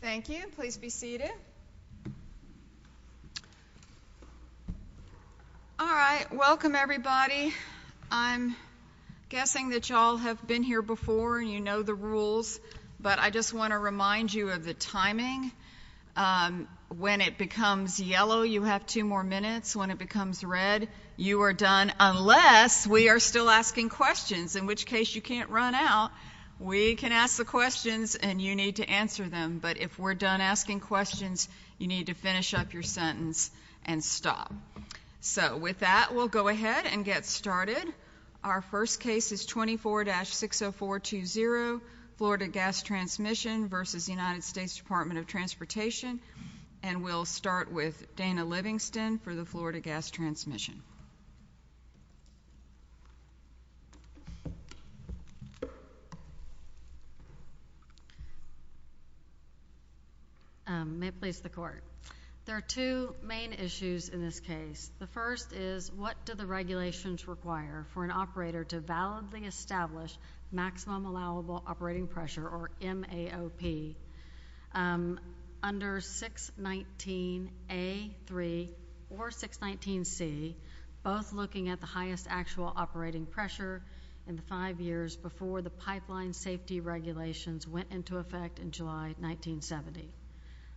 Thank you. Please be seated. All right. Welcome, everybody. I'm guessing that y'all have been here before and you know the rules, but I just want to remind you of the timing. When it becomes yellow, you have two more minutes. When it becomes red, you are done unless we are still asking questions, in which case you can't run out. We can ask the questions and you need to answer them, but if we're done asking questions, you need to finish up your sentence and stop. So with that, we'll go ahead and get started. Our first case is 24-60420, Florida Gas Transmission v. United States Department of Transportation, and we'll start with Dana Livingston for the Florida Gas Transmission. May it please the Court. There are two main issues in this case. The first is what do the regulations require for an operator to validly establish maximum allowable operating pressure, or MAOP, under 619A3 or 619C, both looking at the highest actual operating pressure in the five years before the pipeline safety regulations went into effect in July 1970.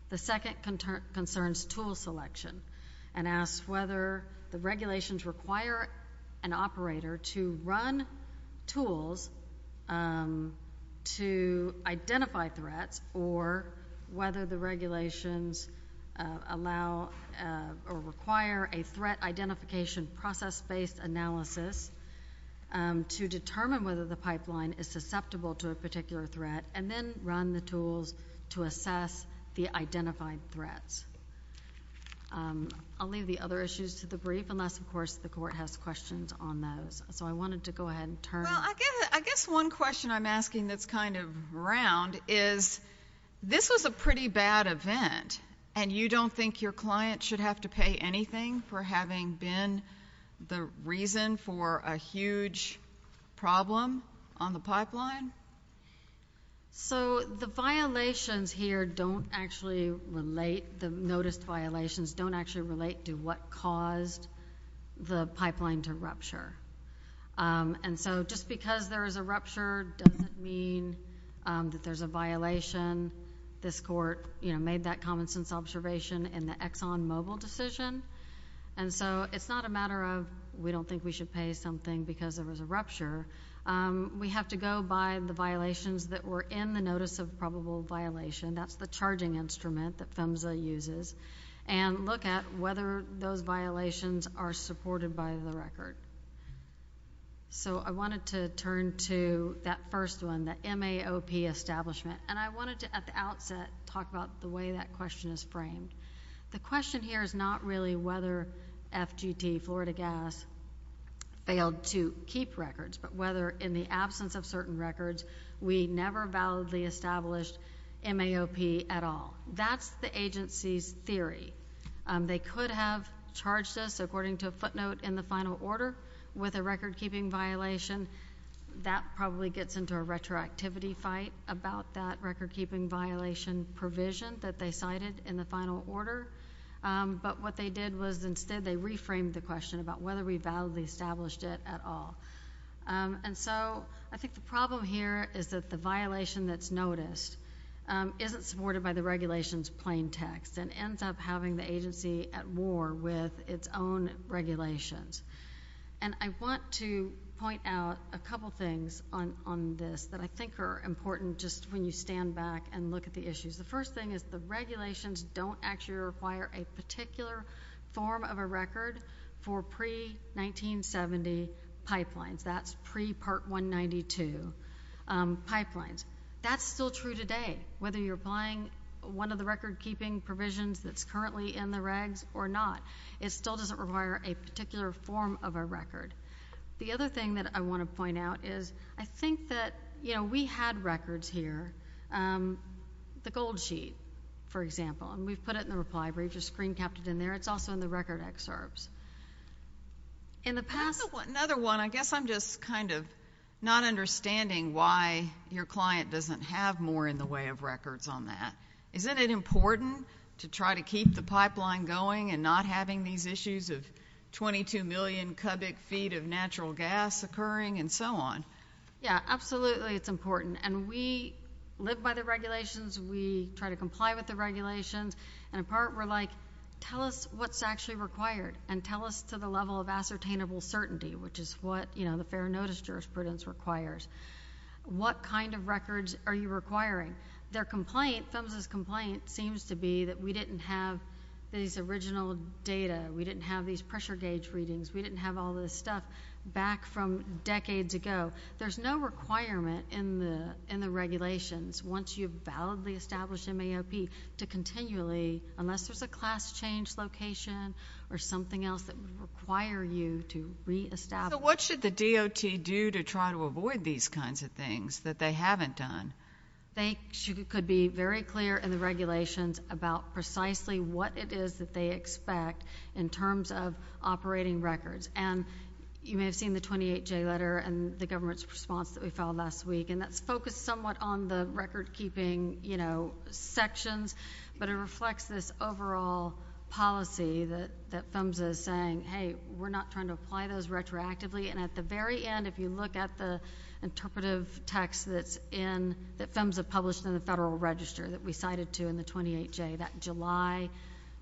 The second concerns tool selection and asks whether the regulations require an operator to run tools to identify threats or whether the regulations allow or require a threat identification process-based analysis to determine whether the pipeline is susceptible to a particular threat, and then run the tools to assess the identified threats. I'll leave the other issues to the brief, unless, of course, the Court has questions on those. So I wanted to go ahead and turn... Well, I guess one question I'm asking that's kind of round is this was a pretty bad event and you don't think your client should have to pay anything for having been the reason for a huge problem on the pipeline? So the violations here don't actually relate, the noticed violations don't actually relate to what caused the pipeline to rupture. And so just because there is a rupture doesn't mean that there's a violation. This Court, you know, made that common sense observation in the ExxonMobil decision. And so it's not a matter of we don't think we should pay something because there was a rupture. We have to go by the violations that were in the notice of probable violation, that's the charging instrument that PHMSA uses, and look at whether those violations are supported by the record. So I wanted to turn to that first one, the MAOP establishment. And I wanted to, at the The question here is not really whether FGT, Florida Gas, failed to keep records, but whether in the absence of certain records, we never validly established MAOP at all. That's the agency's theory. They could have charged us, according to a footnote in the final order, with a recordkeeping violation. That probably gets into a retroactivity fight about that recordkeeping violation provision that they cited in the final order. But what they did was instead they reframed the question about whether we validly established it at all. And so I think the problem here is that the violation that's noticed isn't supported by the regulation's plain text and ends up having the agency at war with its own regulations. And I want to point out a couple things on this that I think are important just when you stand back and look at the issues. The first thing is the regulations don't actually require a particular form of a record for pre-1970 pipelines. That's pre-Part 192 pipelines. That's still true today, whether you're applying one of the recordkeeping provisions that's currently in the regs or not. It still doesn't require a particular form of a record. The other thing that I want to point out is I think that, you know, we had records here. The gold sheet, for example, and we've put it in the Reply Brief, just screen-capped it in there. It's also in the record excerpts. In the past— Another one. I guess I'm just kind of not understanding why your client doesn't have more in the way of records on that. Isn't it important to try to keep the pipeline going and not having these issues of 22 million cubic feet of natural gas occurring and so on? Yeah, absolutely it's important. And we live by the regulations. We try to comply with the regulations. And in part, we're like, tell us what's actually required and tell us to the level of ascertainable certainty, which is what, you know, the fair notice jurisprudence requires. What kind of records are you requiring? Their complaint, PHMSA's complaint, seems to be that we didn't have these original data. We didn't have these pressure gauge readings. We didn't have all this stuff back from decades ago. There's no requirement in the regulations, once you've validly established MAOP, to continually—unless there's a class change location or something else that would require you to reestablish— What should the DOT do to try to avoid these kinds of things that they haven't done? They could be very clear in the regulations about precisely what it is that they expect in terms of operating records. And you may have seen the 28J letter and the government's response that we filed last week, and that's focused somewhat on the recordkeeping, you know, sections, but it reflects this overall policy that PHMSA is saying, hey, we're not trying to apply those retroactively. And at the very end, if you look at the interpretive text that's in—that PHMSA published in the Federal Register that we cited to in the 28J, that July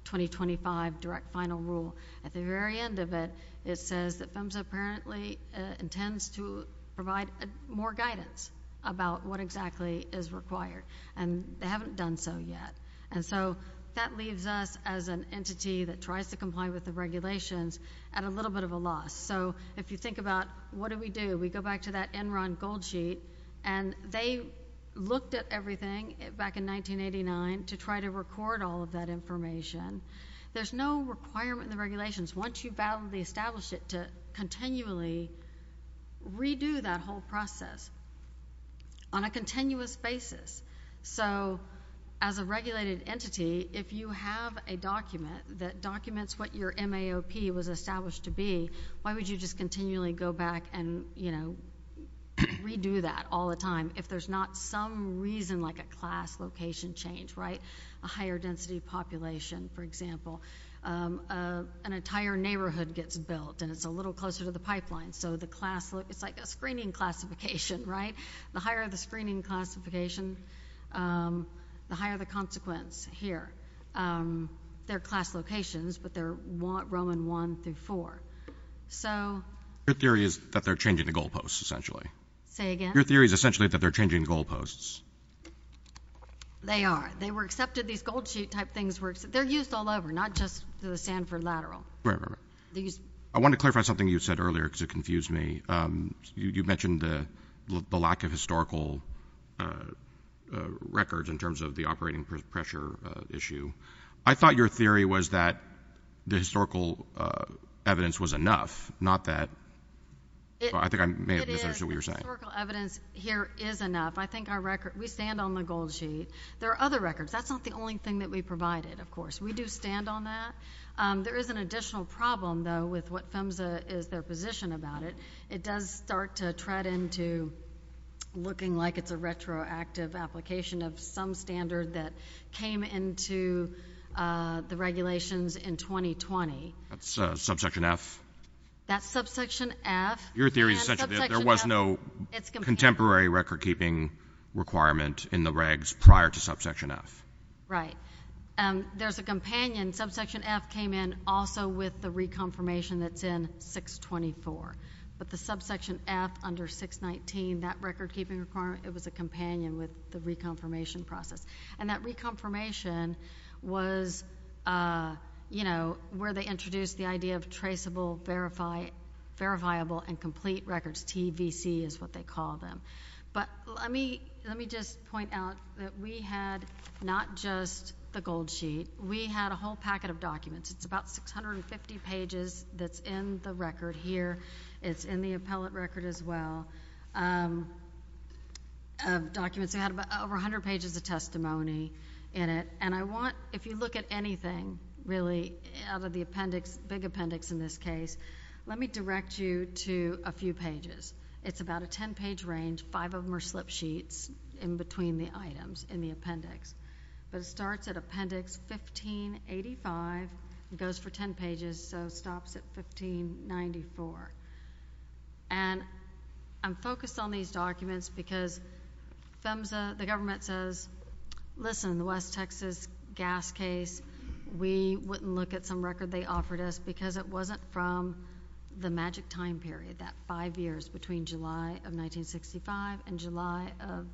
2025 direct final rule, at the very end of it, it says that PHMSA apparently intends to provide more guidance about what exactly is required, and they haven't done so yet. And so that leaves us as an entity that tries to comply with the regulations at a little bit of a loss. So if you think about what do we do, we go back to that Enron gold sheet, and they looked at everything back in 1989 to try to record all of that information. There's no requirement in the regulations, once you've validly established it, to continually redo that whole process on a continuous basis. So as a regulated entity, if you have a document that documents what your MAOP was established to be, why would you just continually go back and, you know, redo that all the time if there's not some reason like a class location change, right? A higher density population, for example. An entire neighborhood gets built, and it's a little closer to the pipeline, so the class—it's like a screening classification, right? The higher the screening classification, the higher the consequence here. They're class locations, but they're Roman I through IV. So, you know, your theory is that they're changing the goalposts, essentially. Say again? Your theory is essentially that they're changing goalposts. They are. They were accepted. These gold sheet type things were—they're used all over, not just the Sanford lateral. Right, right, right. I want to clarify something you said earlier because it confused me. You mentioned the lack of historical records in terms of the operating pressure issue. I thought your theory was that the historical evidence was enough, not that—I think I may have misunderstood what you were saying. It is. The historical evidence here is enough. I think our record—we stand on the gold sheet. There are other records. That's not the only thing that we provided, of course. We do stand on that. There is an additional problem, though, with what PHMSA is their position about it. It does start to tread into looking like it's a retroactive application of some standard that came into the regulations in 2020. That's subsection F? That's subsection F. Your theory is essentially that there was no contemporary recordkeeping requirement in the regs prior to subsection F. Right. There's a companion. Subsection F came in also with the reconfirmation that's in 624, but the subsection F under 619, that recordkeeping requirement, it was a companion with the reconfirmation process. And that reconfirmation was, you know, where they introduced the idea of traceable, verifiable, and complete records. TVC is what they call them. But let me just point out that we had not just the gold sheet. We had a whole packet of documents. It's about 650 pages that's in the record here. It's in the appellate record as well of documents. We had over 100 pages of testimony in it. And I want, if you look at anything really out of the appendix, big appendix in this case, let me direct you to a few pages. It's about a 10-page range. Five of them are slip sheets in between the items in the appendix. But it starts at appendix 1585. It goes for 10 pages, so stops at 1594. And I'm focused on these documents because FEMSA, the government says, listen, the West Texas gas case, we wouldn't look at some record they offered us because it wasn't from the magic time period, that five years between July of 1965 and July of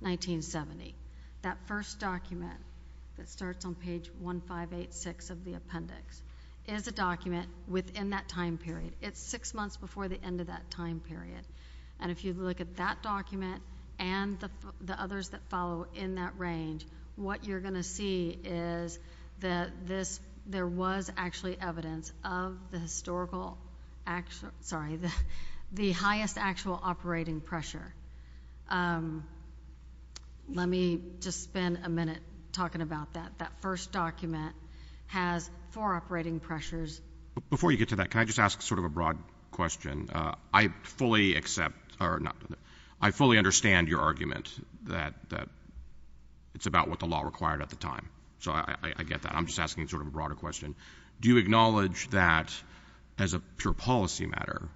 1970. That first document that starts on page 1586 of the appendix is a document within that time period. It's six months before the end of that time period. And if you look at that document and the others that follow in that range, what you're going to see is that this, there was actually evidence of the historical, sorry, the highest actual operating pressure. Let me just spend a minute talking about that. That first document has four operating pressures. Before you get to that, can I just ask sort of a broad question? I fully understand your argument that it's about what the law required at the time. So I get that. I'm just asking sort of a broader question. Do you acknowledge that as a pure policy matter,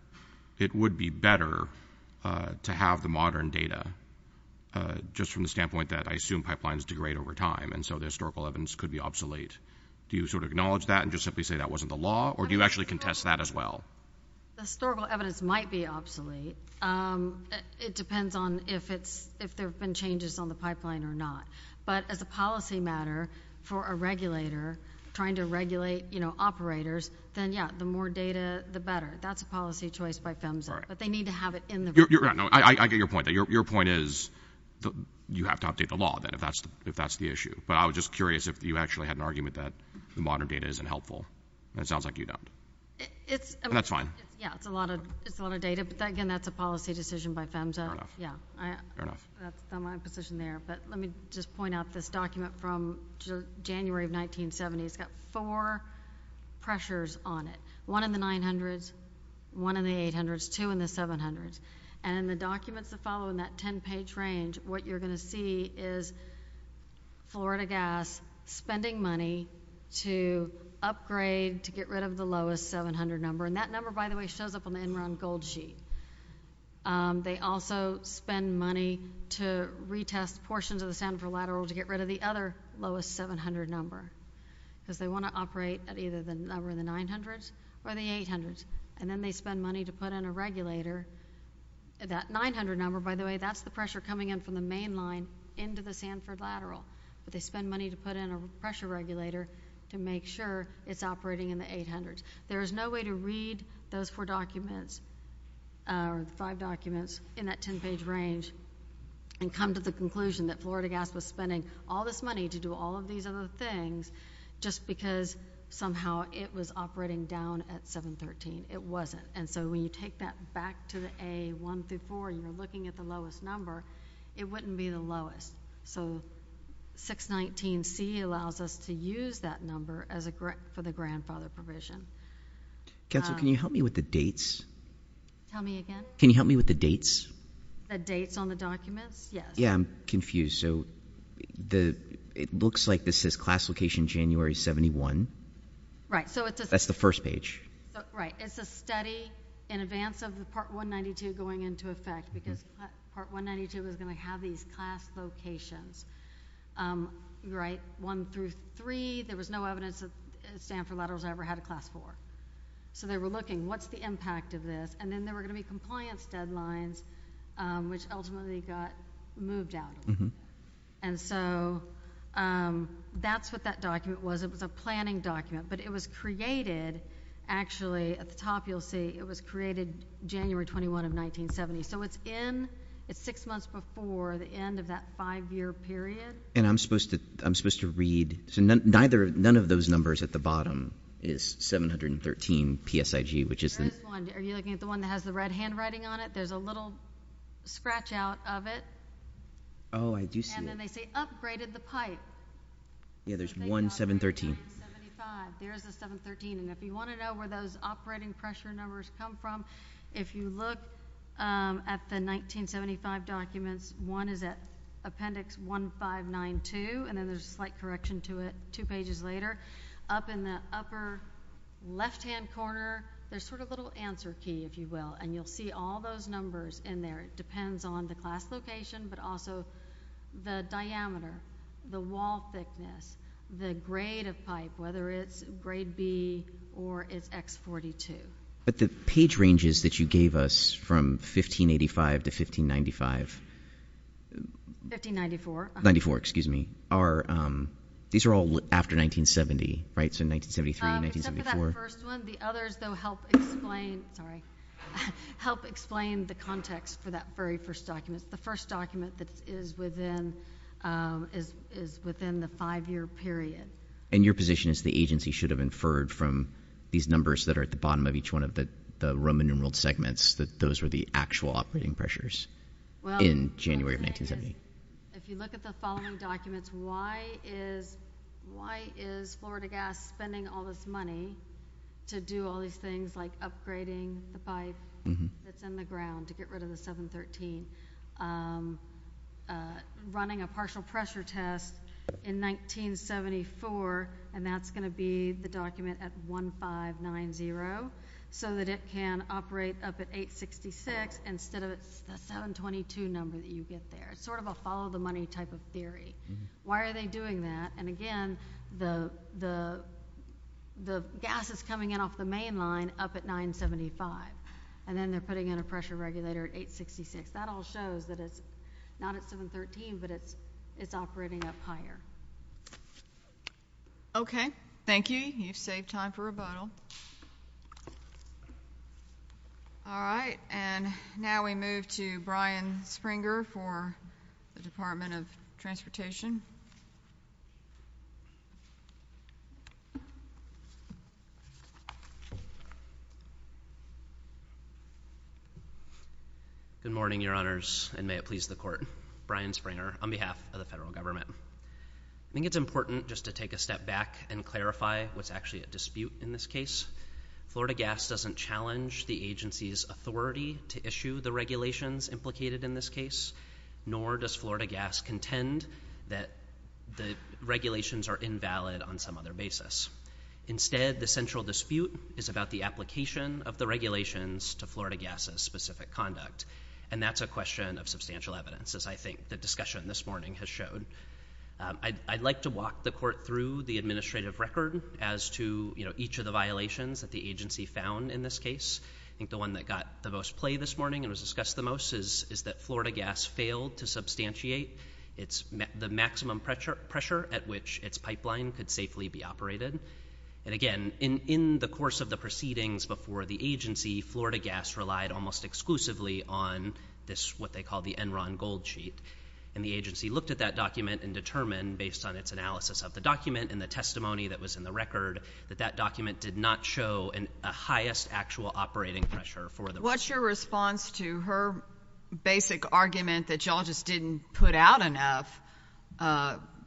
it would be better to have the modern data just from the standpoint that I assume pipelines degrade over time and so the historical evidence could be obsolete? Do you sort of acknowledge that and just simply say that wasn't the law? Or do you actually contest that as well? The historical evidence might be obsolete. It depends on if it's, if there have been changes on the pipeline or not. But as a policy matter for a regulator trying to regulate, you know, operators, then yeah, the more data, the better. That's a policy choice by PHMSA. But they need to have it in the report. You're right. No, I get your point. Your point is you have to update the law then if that's the issue. But I was just curious if you actually had an argument that the modern data isn't helpful. And it sounds like you don't. But that's fine. Yeah, it's a lot of data. But again, that's a policy decision by PHMSA. Fair enough. That's not my position there. But let me just point out this document from January of 1970. It's got four pressures on it, one in the 900s, one in the 800s, two in the 700s. And in the documents that follow in that 10-page range, what you're going to see is Florida Gas spending money to upgrade to get rid of the lowest 700 number. And that number, by the way, shows up on the Enron Gold Sheet. They also spend money to retest portions of the Sanford Lateral to get rid of the other lowest 700 number because they want to operate at either the number in the 900s or the 800s. And then they spend money to put in a regulator. That 900 number, by the way, that's the pressure coming in from the main line into the Sanford Lateral. But they spend money to put in a pressure regulator to make sure it's operating in the 800s. There is no way to read those four documents or the five documents in that 10-page range and come to the conclusion that Florida Gas was spending all this money to do all of these other things just because somehow it was operating down at 713. It wasn't. And so when you take that back to the A1 through 4 and you're looking at the lowest number, it wouldn't be the lowest. So 619C allows us to use that number for the grandfather provision. Counsel, can you help me with the dates? Tell me again? Can you help me with the dates? The dates on the documents? Yes. Yeah, I'm confused. So it looks like this says class location January 71. Right. That's the first page. Right. It's a study in advance of the Part 192 going into effect because Part 192 was going to have these class locations, right, 1 through 3. There was no evidence that Sanford Laterals ever had a class 4. So they were looking, what's the impact of this? And then there were going to be compliance deadlines, which ultimately got moved out. And so that's what that document was. It was a planning document. But it was created, actually, at the top you'll see it was created January 21 of 1970. So it's in, it's six months before the end of that five-year period. And I'm supposed to read, so none of those numbers at the bottom is 713 PSIG, which is the There is one. Are you looking at the one that has the red handwriting on it? There's a little scratch out of it. Oh, I do see it. And then they say upgraded the pipe. Yeah, there's one 713. There's a 713. And if you want to know where those operating pressure numbers come from, if you look at the 1975 documents, one is at Appendix 1592, and then there's a slight correction to it two pages later. Up in the upper left-hand corner, there's sort of a little answer key, if you will. And you'll see all those numbers in there. It depends on the class location, but also the diameter, the wall thickness, the grade of pipe, whether it's grade B or it's X42. But the page ranges that you gave us from 1585 to 1595 1594. 94, excuse me. These are all after 1970, right? So 1973, 1974. The first one. The others, though, help explain the context for that very first document. The first document that is within the five-year period. And your position is the agency should have inferred from these numbers that are at the bottom of each one of the Roman numeral segments that those were the actual operating pressures in January of 1970? If you look at the following documents, why is Florida Gas spending all this money to do all these things like upgrading the pipe that's in the ground to get rid of the 713, running a partial pressure test in 1974, and that's going to be the document at 1590, so that it can operate up at 866 instead of the 722 number that you get there? It's sort of a follow-the-money type of theory. Why are they doing that? And again, the gas is coming in off the main line up at 975. And then they're putting in a pressure regulator at 866. That all shows that it's not at 713, but it's operating up higher. Okay. Thank you. Thank you, Judy. You've saved time for rebuttal. All right. And now we move to Brian Springer for the Department of Transportation. Good morning, Your Honors, and may it please the Court. Brian Springer on behalf of the federal government. I think it's important just to take a step back and clarify what's actually at dispute in this case. Florida Gas doesn't challenge the agency's authority to issue the regulations implicated in this case, nor does Florida Gas contend that the regulations are invalid on some other basis. Instead, the central dispute is about the application of the regulations to Florida Gas's specific conduct. And that's a question of substantial evidence, as I think the discussion this morning has showed. I'd like to walk the Court through the administrative record as to, you know, each of the violations that the agency found in this case. I think the one that got the most play this morning and was discussed the most is that Florida Gas failed to substantiate the maximum pressure at which its pipeline could safely be operated. And again, in the course of the proceedings before the agency, Florida Gas relied almost exclusively on what they call the Enron Gold Sheet. And the agency looked at that document and determined, based on its analysis of the document and the testimony that was in the record, that that document did not show a highest actual operating pressure for the pipeline. What's your response to her basic argument that y'all just didn't put out enough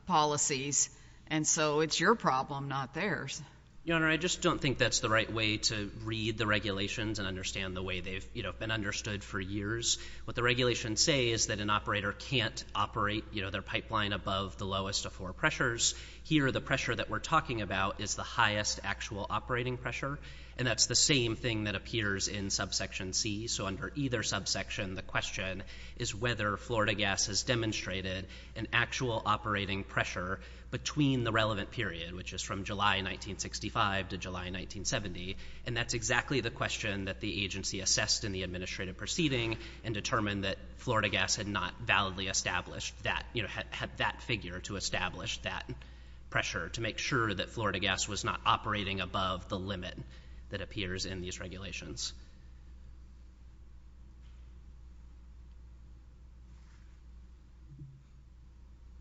policies and so it's your problem, not theirs? Your Honor, I just don't think that's the right way to read the regulations and understand the way they've been understood for years. What the regulations say is that an operator can't operate their pipeline above the lowest of four pressures. Here, the pressure that we're talking about is the highest actual operating pressure. And that's the same thing that appears in Subsection C. So under either subsection, the question is whether Florida Gas has demonstrated an actual operating pressure between the relevant period, which is from July 1965 to July 1970. And that's exactly the question that the agency assessed in the administrative proceeding and determined that Florida Gas had not validly established that, had that figure to establish that pressure, to make sure that Florida Gas was not operating above the limit that appears in these regulations.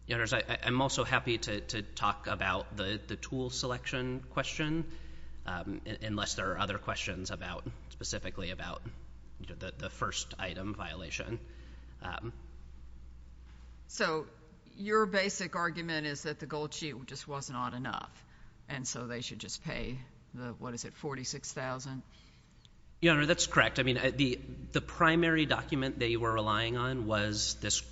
Your Honor, I'm also happy to talk about the tool selection question, unless there are other questions specifically about the first item violation. So your basic argument is that the gold sheet just wasn't odd enough, and so they should just pay the, what is it, $46,000? Your Honor, that's correct. The primary document they were relying on was this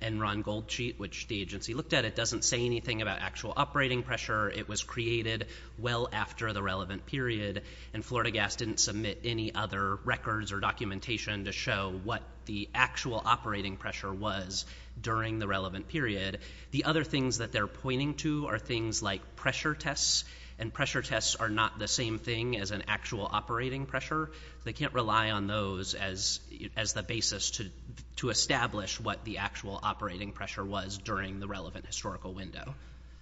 Enron gold sheet, which the agency looked at. It doesn't say anything about actual operating pressure. It was created well after the relevant period, and Florida Gas didn't submit any other records or documentation to show what the actual operating pressure was during the relevant period. The other things that they're pointing to are things like pressure tests, and pressure tests are not the same thing as an actual operating pressure. They can't rely on those as the basis to establish what the actual operating pressure was during the relevant historical window.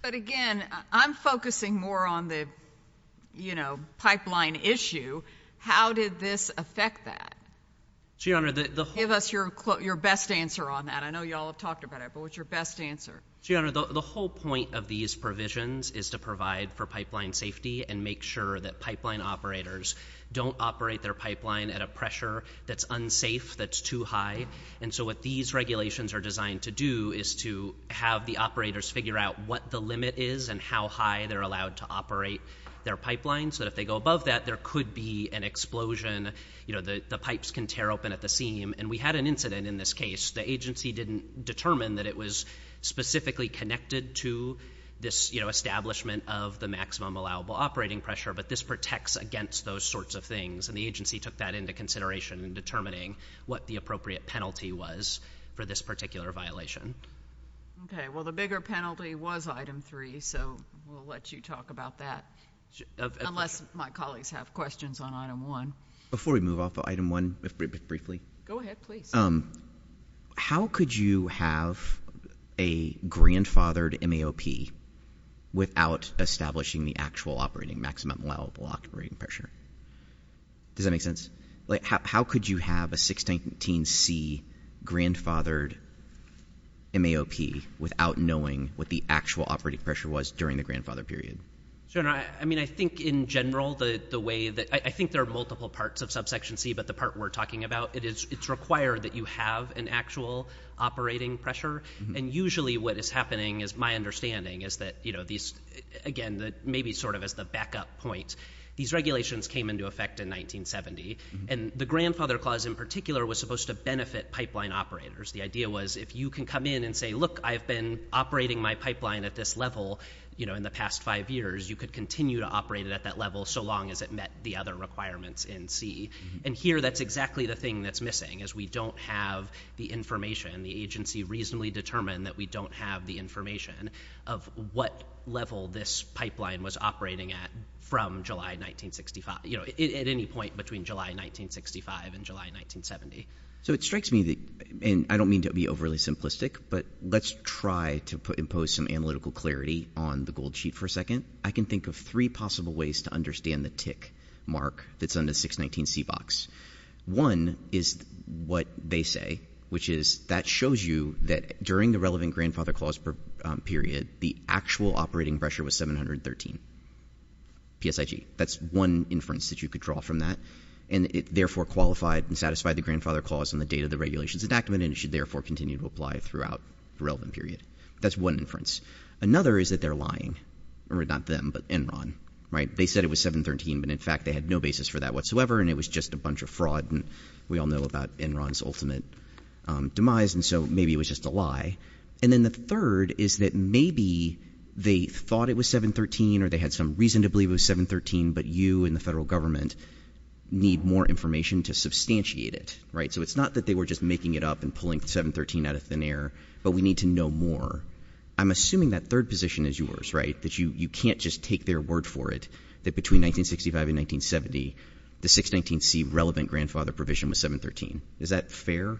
But again, I'm focusing more on the, you know, pipeline issue. How did this affect that? Your Honor, the whole... Give us your best answer on that. I know you all have talked about it, but what's your best answer? Your Honor, the whole point of these provisions is to provide for pipeline safety and make sure that pipeline operators don't operate their pipeline at a pressure that's unsafe, that's too high. And so what these regulations are designed to do is to have the operators figure out what the limit is and how high they're allowed to operate their pipeline so that if they go above that, there could be an explosion. You know, the pipes can tear open at the seam. And we had an incident in this case. The agency didn't determine that it was specifically connected to this, you know, establishment of the maximum allowable operating pressure, but this protects against those sorts of things. And the agency took that into consideration in determining what the appropriate penalty was for this particular violation. Okay, well, the bigger penalty was Item 3, so we'll let you talk about that, unless my colleagues have questions on Item 1. Before we move off of Item 1, briefly... Go ahead, please. How could you have a grandfathered MAOP without establishing the actual operating maximum allowable operating pressure? Does that make sense? Like, how could you have a 619C grandfathered MAOP without knowing what the actual operating pressure was during the grandfather period? I mean, I think in general, the way that... I think there are multiple parts of Subsection C, but the part we're talking about, it's required that you have an actual operating pressure, and usually what is happening, is my understanding, is that, you know, these... Again, maybe sort of as the backup point, these regulations came into effect in 1970, and the Grandfather Clause in particular was supposed to benefit pipeline operators. The idea was, if you can come in and say, look, I've been operating my pipeline at this level, you know, in the past five years, you could continue to operate it at that level so long as it met the other requirements in C. And here, that's exactly the thing that's missing, is we don't have the information. The agency reasonably determined that we don't have the information of what level this pipeline was operating at from July 1965, you know, at any point between July 1965 and July 1970. So it strikes me that... And I don't mean to be overly simplistic, but let's try to impose some analytical clarity on the gold sheet for a second. I can think of three possible ways to understand the tick mark that's on the 619C box. One is what they say, which is that shows you that during the relevant Grandfather Clause period, the actual operating pressure was 713 PSIG. That's one inference that you could draw from that. And it therefore qualified and satisfied the Grandfather Clause on the date of the regulations and should therefore continue to apply throughout the relevant period. That's one inference. Another is that they're lying. Not them, but Enron, right? They said it was 713, but in fact, they had no basis for that whatsoever, and it was just a bunch of fraud, and we all know about Enron's ultimate demise, and so maybe it was just a lie. And then the third is that maybe they thought it was 713, or they had some reason to believe it was 713, but you and the federal government need more information to substantiate it, right? So it's not that they were just making it up and pulling 713 out of thin air, but we need to know more. I'm assuming that third position is yours, right? That you can't just take their word for it, that between 1965 and 1970, the 619C relevant grandfather provision was 713. Is that fair?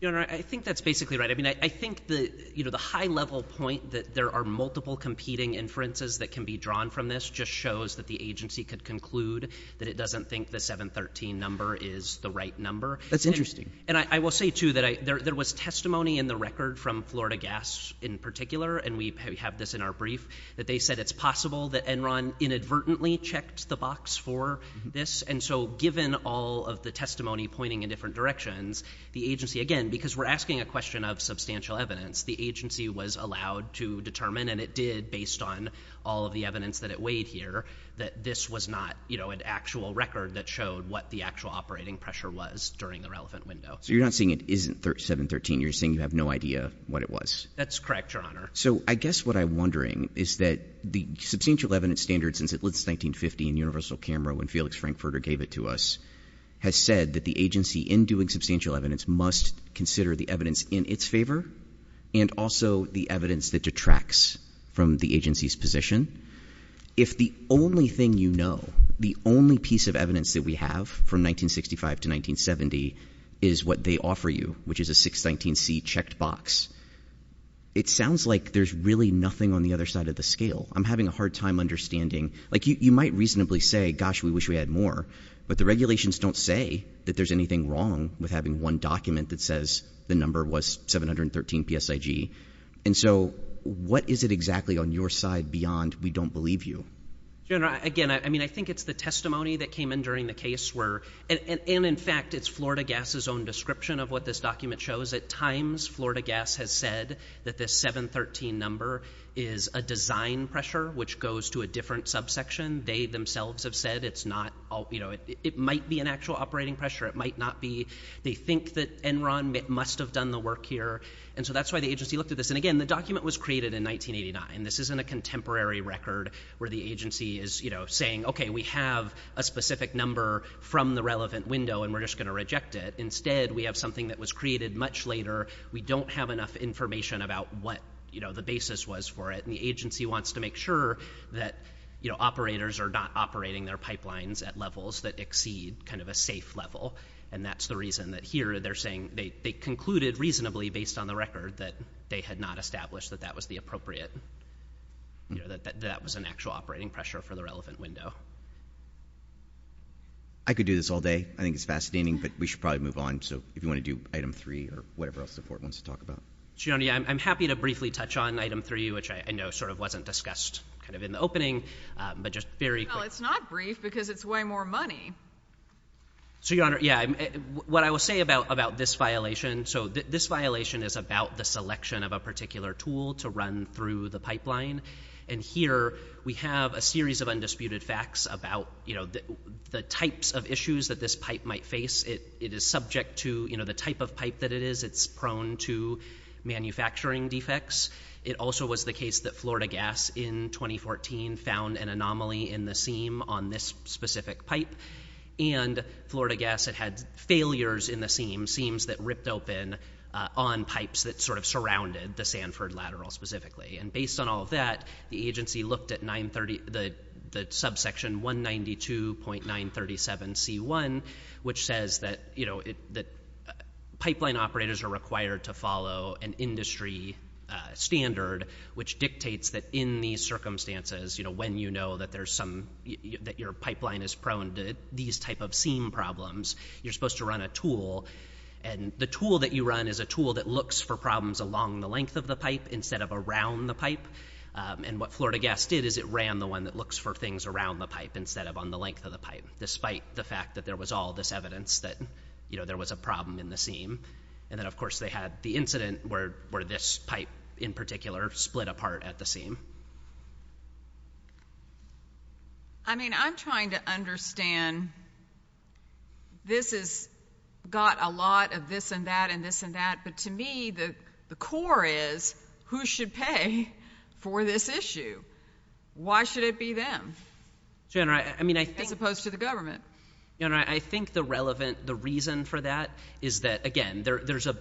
Your Honor, I think that's basically right. I mean, I think the high-level point that there are multiple competing inferences that can be drawn from this just shows that the agency could conclude that it doesn't think the 713 number is the right number. That's interesting. And I will say, too, that there was testimony in the record from Florida Gas in particular, and we have this in our brief, that they said it's possible that Enron inadvertently checked the box for this. And so given all of the testimony pointing in different directions, the agency, again, because we're asking a question of substantial evidence, the agency was allowed to determine, and it did based on all of the evidence that it weighed here, that this was not an actual record that showed what the actual operating pressure was during the relevant window. So you're not saying it isn't 713. You're saying you have no idea what it was. That's correct, Your Honor. So I guess what I'm wondering is that the substantial evidence standard since at least 1950 in Universal Camera when Felix Frankfurter gave it to us has said that the agency, in doing substantial evidence, must consider the evidence in its favor and also the evidence that detracts from the agency's position. If the only thing you know, the only piece of evidence that we have from 1965 to 1970 is what they offer you, which is a 619C checked box, it sounds like there's really nothing on the other side of the scale. I'm having a hard time understanding. You might reasonably say, gosh, we wish we had more, but the regulations don't say that there's anything wrong with having one document that says the number was 713 PSIG. And so what is it exactly on your side beyond we don't believe you? Again, I mean, I think it's the testimony that came in during the case where, and in fact, it's Florida Gas' own description of what this document shows. At times, Florida Gas has said that this 713 number is a design pressure which goes to a different subsection. They themselves have said it's not, it might be an actual operating pressure, it might not be. They think that Enron must have done the work here. And so that's why the agency looked at this. And again, the document was created in 1989. This isn't a contemporary record where the agency is saying, okay, we have a specific number from the relevant window, and we're just going to reject it. Instead, we have something that was created much later. We don't have enough information about what the basis was for it. And the agency wants to make sure that operators are not operating their pipelines at levels that exceed kind of a safe level. And that's the reason that here, they concluded reasonably based on the record that they had not established that that was the appropriate, that that was an actual operating pressure for the relevant window. I could do this all day. I think it's fascinating, but we should probably move on. So if you want to do item three or whatever else the court wants to talk about. I'm happy to briefly touch on item three, which I know sort of wasn't discussed kind of in the opening, but just very quickly. Well, it's not brief because it's way more money. So, Your Honor, yeah. What I will say about this violation, so this violation is about the selection of a particular tool to run through the pipeline. And here, we have a series of undisputed facts about the types of issues that this pipe might face. It is subject to, you know, the type of pipe that it is. It's prone to manufacturing defects. It also was the case that Florida Gas in 2014 found an anomaly in the seam on this specific pipe. And Florida Gas, it had failures in the seam, seams that ripped open on pipes that sort of surrounded the Sanford lateral specifically. And based on all of that, the agency looked at the subsection 192.937C1, which says that, you know, that pipeline operators are required to follow an industry standard, which dictates that in these circumstances, you know, when you know that there's some, that your pipeline is prone to these type of seam problems, you're supposed to run a tool. And the tool that you run is a tool that looks for problems along the length of the pipe instead of around the pipe. And what Florida Gas did is it ran the one that looks for things around the pipe instead of on the length of the pipe, despite the fact that there was all this evidence that, you know, there was a problem in the seam. And then, of course, they had the incident where this pipe in particular split apart at the seam. I mean, I'm trying to this has got a lot of this and that and this and that, but to me, the core is who should pay for this issue? Why should it be them? As opposed to the government. You know, I think the relevant, the reason for that is that, again, there's a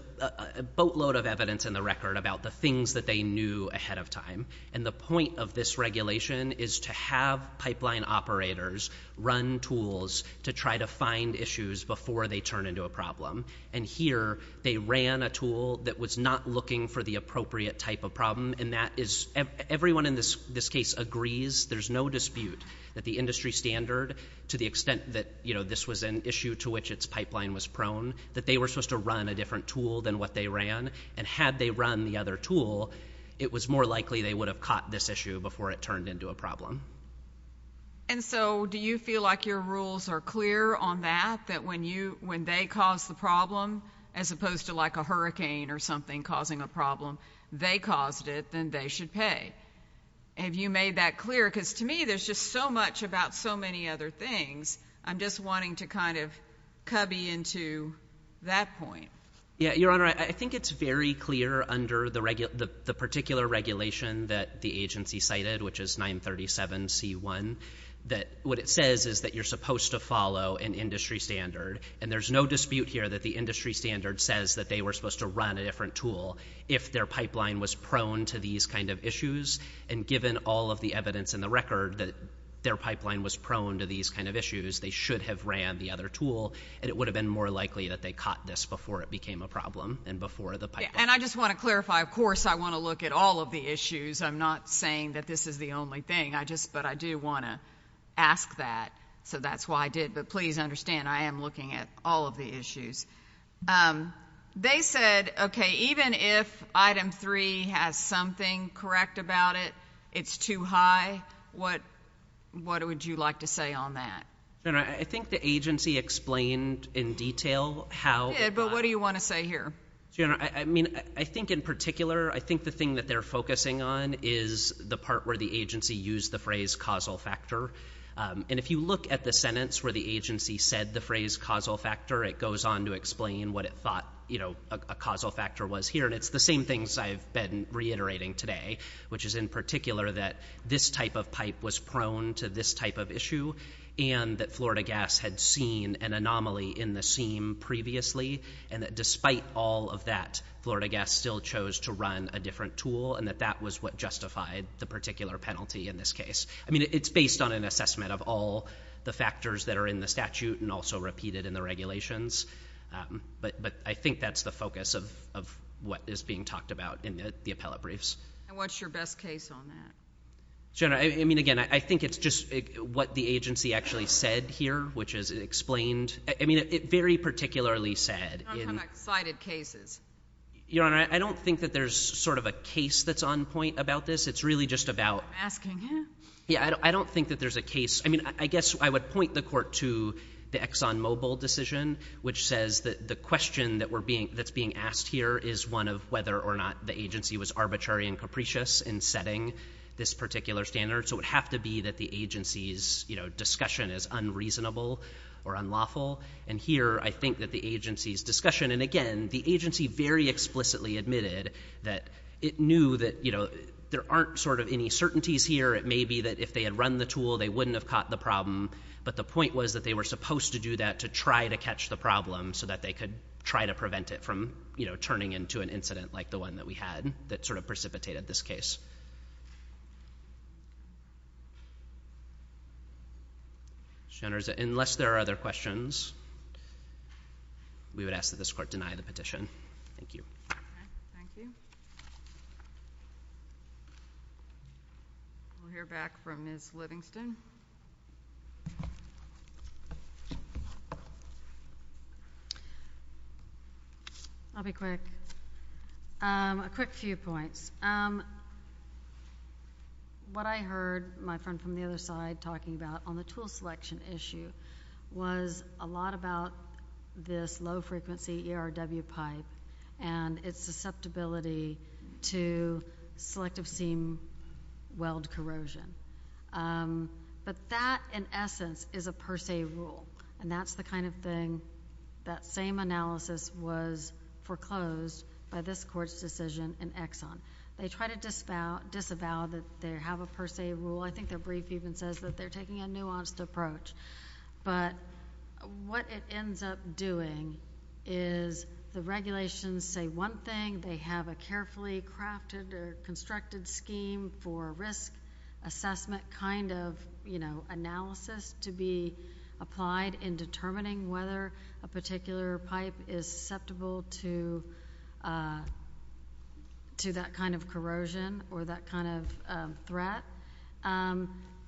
boatload of evidence in the record about the things that they knew ahead of time. And the point of this regulation is to have pipeline operators run tools to try to find issues before they turn into a problem. And here, they ran a tool that was not looking for the appropriate type of problem and that is, everyone in this case agrees, there's no dispute that the industry standard, to the extent that, you know, this was an issue to which its pipeline was prone, that they were supposed to run a different tool than what they ran and had they run the other tool, it was more likely they would have caught this issue before it turned into a problem. And so, do you feel like your rules are clear on that? That when you, when they cause the problem, as opposed to like a hurricane or something causing a problem, they caused it, then they should pay. Have you made that clear? Because to me, there's just so much about so many other things, I'm just wanting to kind of cubby into that point. Yeah, Your Honor, I think it's very clear under the particular regulation that the agency cited, which is 937 C1, that what it says is that you're supposed to follow an industry standard, and there's no dispute here that the industry standard says that they were supposed to run a different tool if their pipeline was prone to these kind of issues, and given all of the evidence in the record that their pipeline was prone to these kind of issues, they should have ran the other tool and it would have been more likely that they caught this before it became a problem and before the pipeline. And I just want to clarify, of course, I want to look at all of the issues, I'm not saying that this is the only thing, but I do want to ask that, so that's why I did, but please understand, I am looking at all of the They said, okay, even if item 3 has something correct about it, it's too high, what would you like to say on that? Your Honor, I think the agency explained in detail how But what do you want to say here? I think in particular, I think the thing that they're focusing on is the part where the agency used the phrase causal factor, and if you look at the sentence where the agency said the phrase causal factor, it goes on to explain what it thought a causal factor was here, and it's the same things I've been reiterating today, which is in particular that this type of pipe was prone to this type of issue, and that Florida Gas had seen an anomaly in the seam previously, and that despite all of that, Florida Gas still chose to run a different tool, and that that was what justified the particular penalty in this case. I mean, it's based on an assessment of all the factors that are in the statute and also repeated in the regulations, but I think that's the focus of what is being talked about in the appellate briefs. And what's your best case on that? Your Honor, I mean, again, I think it's just what the agency actually said here, which is it explained... I mean, it very particularly said... I'm talking about cited cases. Your Honor, I don't think that there's sort of a case that's on point about this. It's really just about... I'm asking him. Yeah, I don't think that there's a case... I mean, I guess I would point the Court to the ExxonMobil decision, which says that the question that's being asked here is one of whether or not the agency was arbitrary and capricious in setting this particular standard, so it would have to be that the agency's discussion is unreasonable or unlawful, and here I think that the agency's discussion... And again, the agency very explicitly admitted that it knew that there aren't sort of any certainties here. It may be that if they had run the tool, they wouldn't have caught the problem, but the point was that they were supposed to do that to try to catch the problem so that they could try to prevent it from turning into an incident like the one that we had that sort of precipitated this case. Unless there are other questions, we would ask that this Court deny the petition. Thank you. Thank you. We'll hear back from Ms. Livingston. I'll be quick. A quick few points. What I heard my friend from the other side talking about on the tool selection issue was a lot about this low-frequency ERW pipe and its susceptibility to selective seam weld corrosion. But that, in essence, is a per se rule, and that's the kind of thing that same analysis was foreclosed by this Court's decision in Exxon. They try to disavow that they have a per se rule. I think their brief even says that they're taking a nuanced approach. But what it ends up doing is the regulations say one thing, they have a carefully crafted or constructed scheme for risk assessment kind of analysis to be applied in determining whether a particular pipe is susceptible to that kind of corrosion or that kind of threat.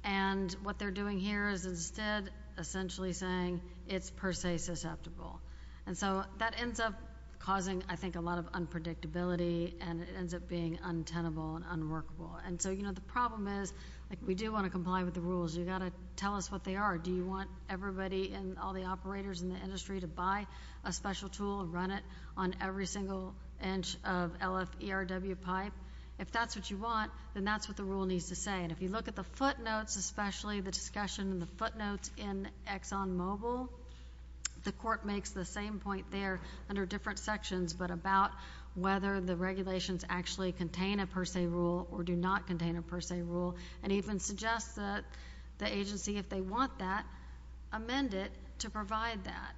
And what they're doing here is instead essentially saying it's per se susceptible. And so that ends up causing, I think, a lot of unpredictability, and it ends up being untenable and unworkable. The problem is, we do want to comply with the rules. You've got to tell us what they are. Do you want everybody and all the operators in the industry to buy a special tool and run it on every single inch of LF ERW pipe? If that's what you want, then that's what the rule needs to say. And if you look at the footnotes, especially the discussion in the footnotes in Exxon Mobil, the Court makes the same point there under different sections, but about whether the regulations actually contain a per se rule or do not contain a per se rule, and even suggests that the agency, if they want that, amend it to provide that.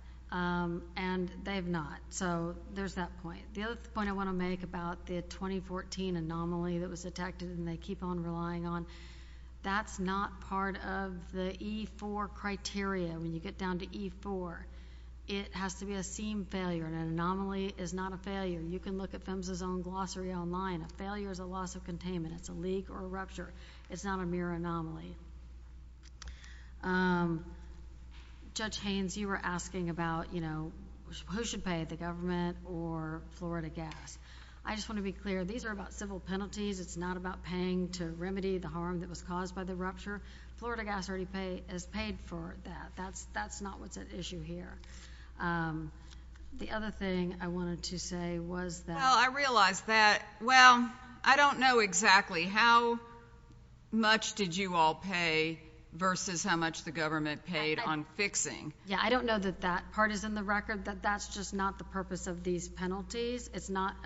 And they've not. So, there's that point. The other point I want to make about the 2014 anomaly that was detected, and they keep on relying on, that's not part of the E4 criteria. When you get down to E4, it has to be a seam failure. An anomaly is not a failure. You can look at PHMSA's own glossary online. A failure is a loss of containment. It's a leak or a rupture. It's not a mere anomaly. Judge Haynes, you were asking about, you know, who should pay, the government or Florida Gas? I just want to be clear. These are about civil penalties. It's not about paying to remedy the harm that was caused by the rupture. Florida Gas already has paid for that. That's not what's at issue here. The other thing I wanted to say was that... Well, I realize that, well, I don't know exactly how much did you all pay versus how much the government paid on fixing. Yeah, I don't know that that part is in the record. That's just not the purpose of these penalties.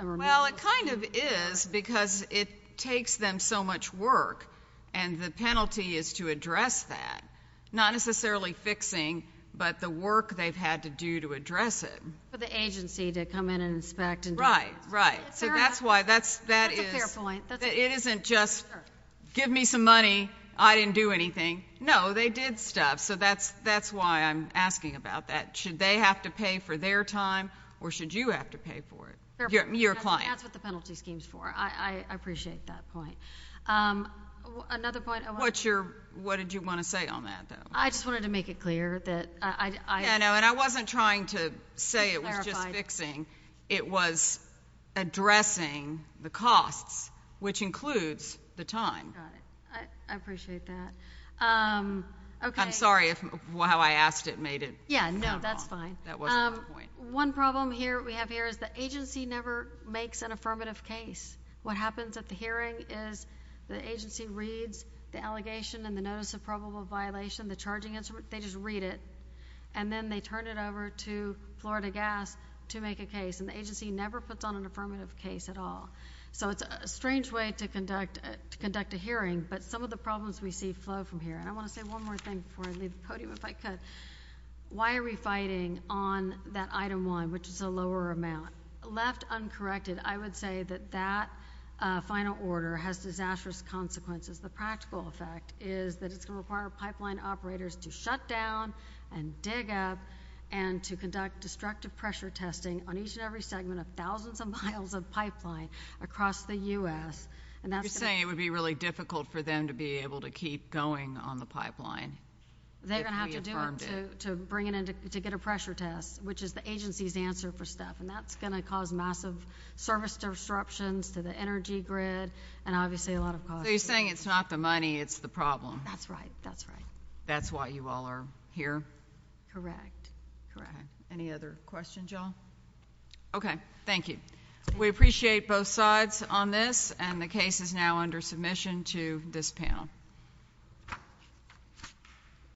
Well, it kind of is because it takes them so much work and the penalty is to address that. Not necessarily fixing, but the work they've had to do to address it. For the agency to come in and inspect. Right, right. So that's why that is... That's a fair point. It isn't just, give me some money, I didn't do anything. No, they did stuff. So that's why I'm asking about that. Should they have to pay for their time or should you have to pay for it? Your client. That's what the penalty scheme's for. I appreciate that point. Another point... What did you want to say on that, though? I just wanted to make it clear that... Yeah, no, and I wasn't trying to say it was just fixing. It was addressing the costs, which includes the time. I appreciate that. I'm sorry if how I asked it made it... Yeah, no, that's fine. That wasn't my point. One problem here we have here is the agency never makes an affirmative case. What happens at the hearing is the agency reads the allegation and the notice of probable violation, the charging instrument, they just read it. And then they turn it over to Florida Gas to make a case. And the agency never puts on an affirmative case at all. So it's a strange way to conduct a hearing. But some of the problems we see flow from here. And I want to say one more thing before I leave the podium, if I could. Why are we fighting on that Item 1, which is a lower amount? Left uncorrected, I would say that that final order has disastrous consequences. The practical effect is that it's going to require pipeline operators to shut down and dig up and to conduct destructive pressure testing on each and every segment of thousands of miles of pipeline across the U.S. You're saying it would be really difficult for them to be able to keep going on the pipeline. They're going to have to do it to bring it in to get a pressure test, which is the agency's answer for stuff. And that's going to cause massive service disruptions to the energy grid and obviously a lot of costs. So you're saying it's not the money, it's the problem. That's right, that's right. That's why you all are here? Correct. Correct. Any other questions, y'all? Okay. Thank you. We appreciate both sides on this and the case is now under submission to this panel.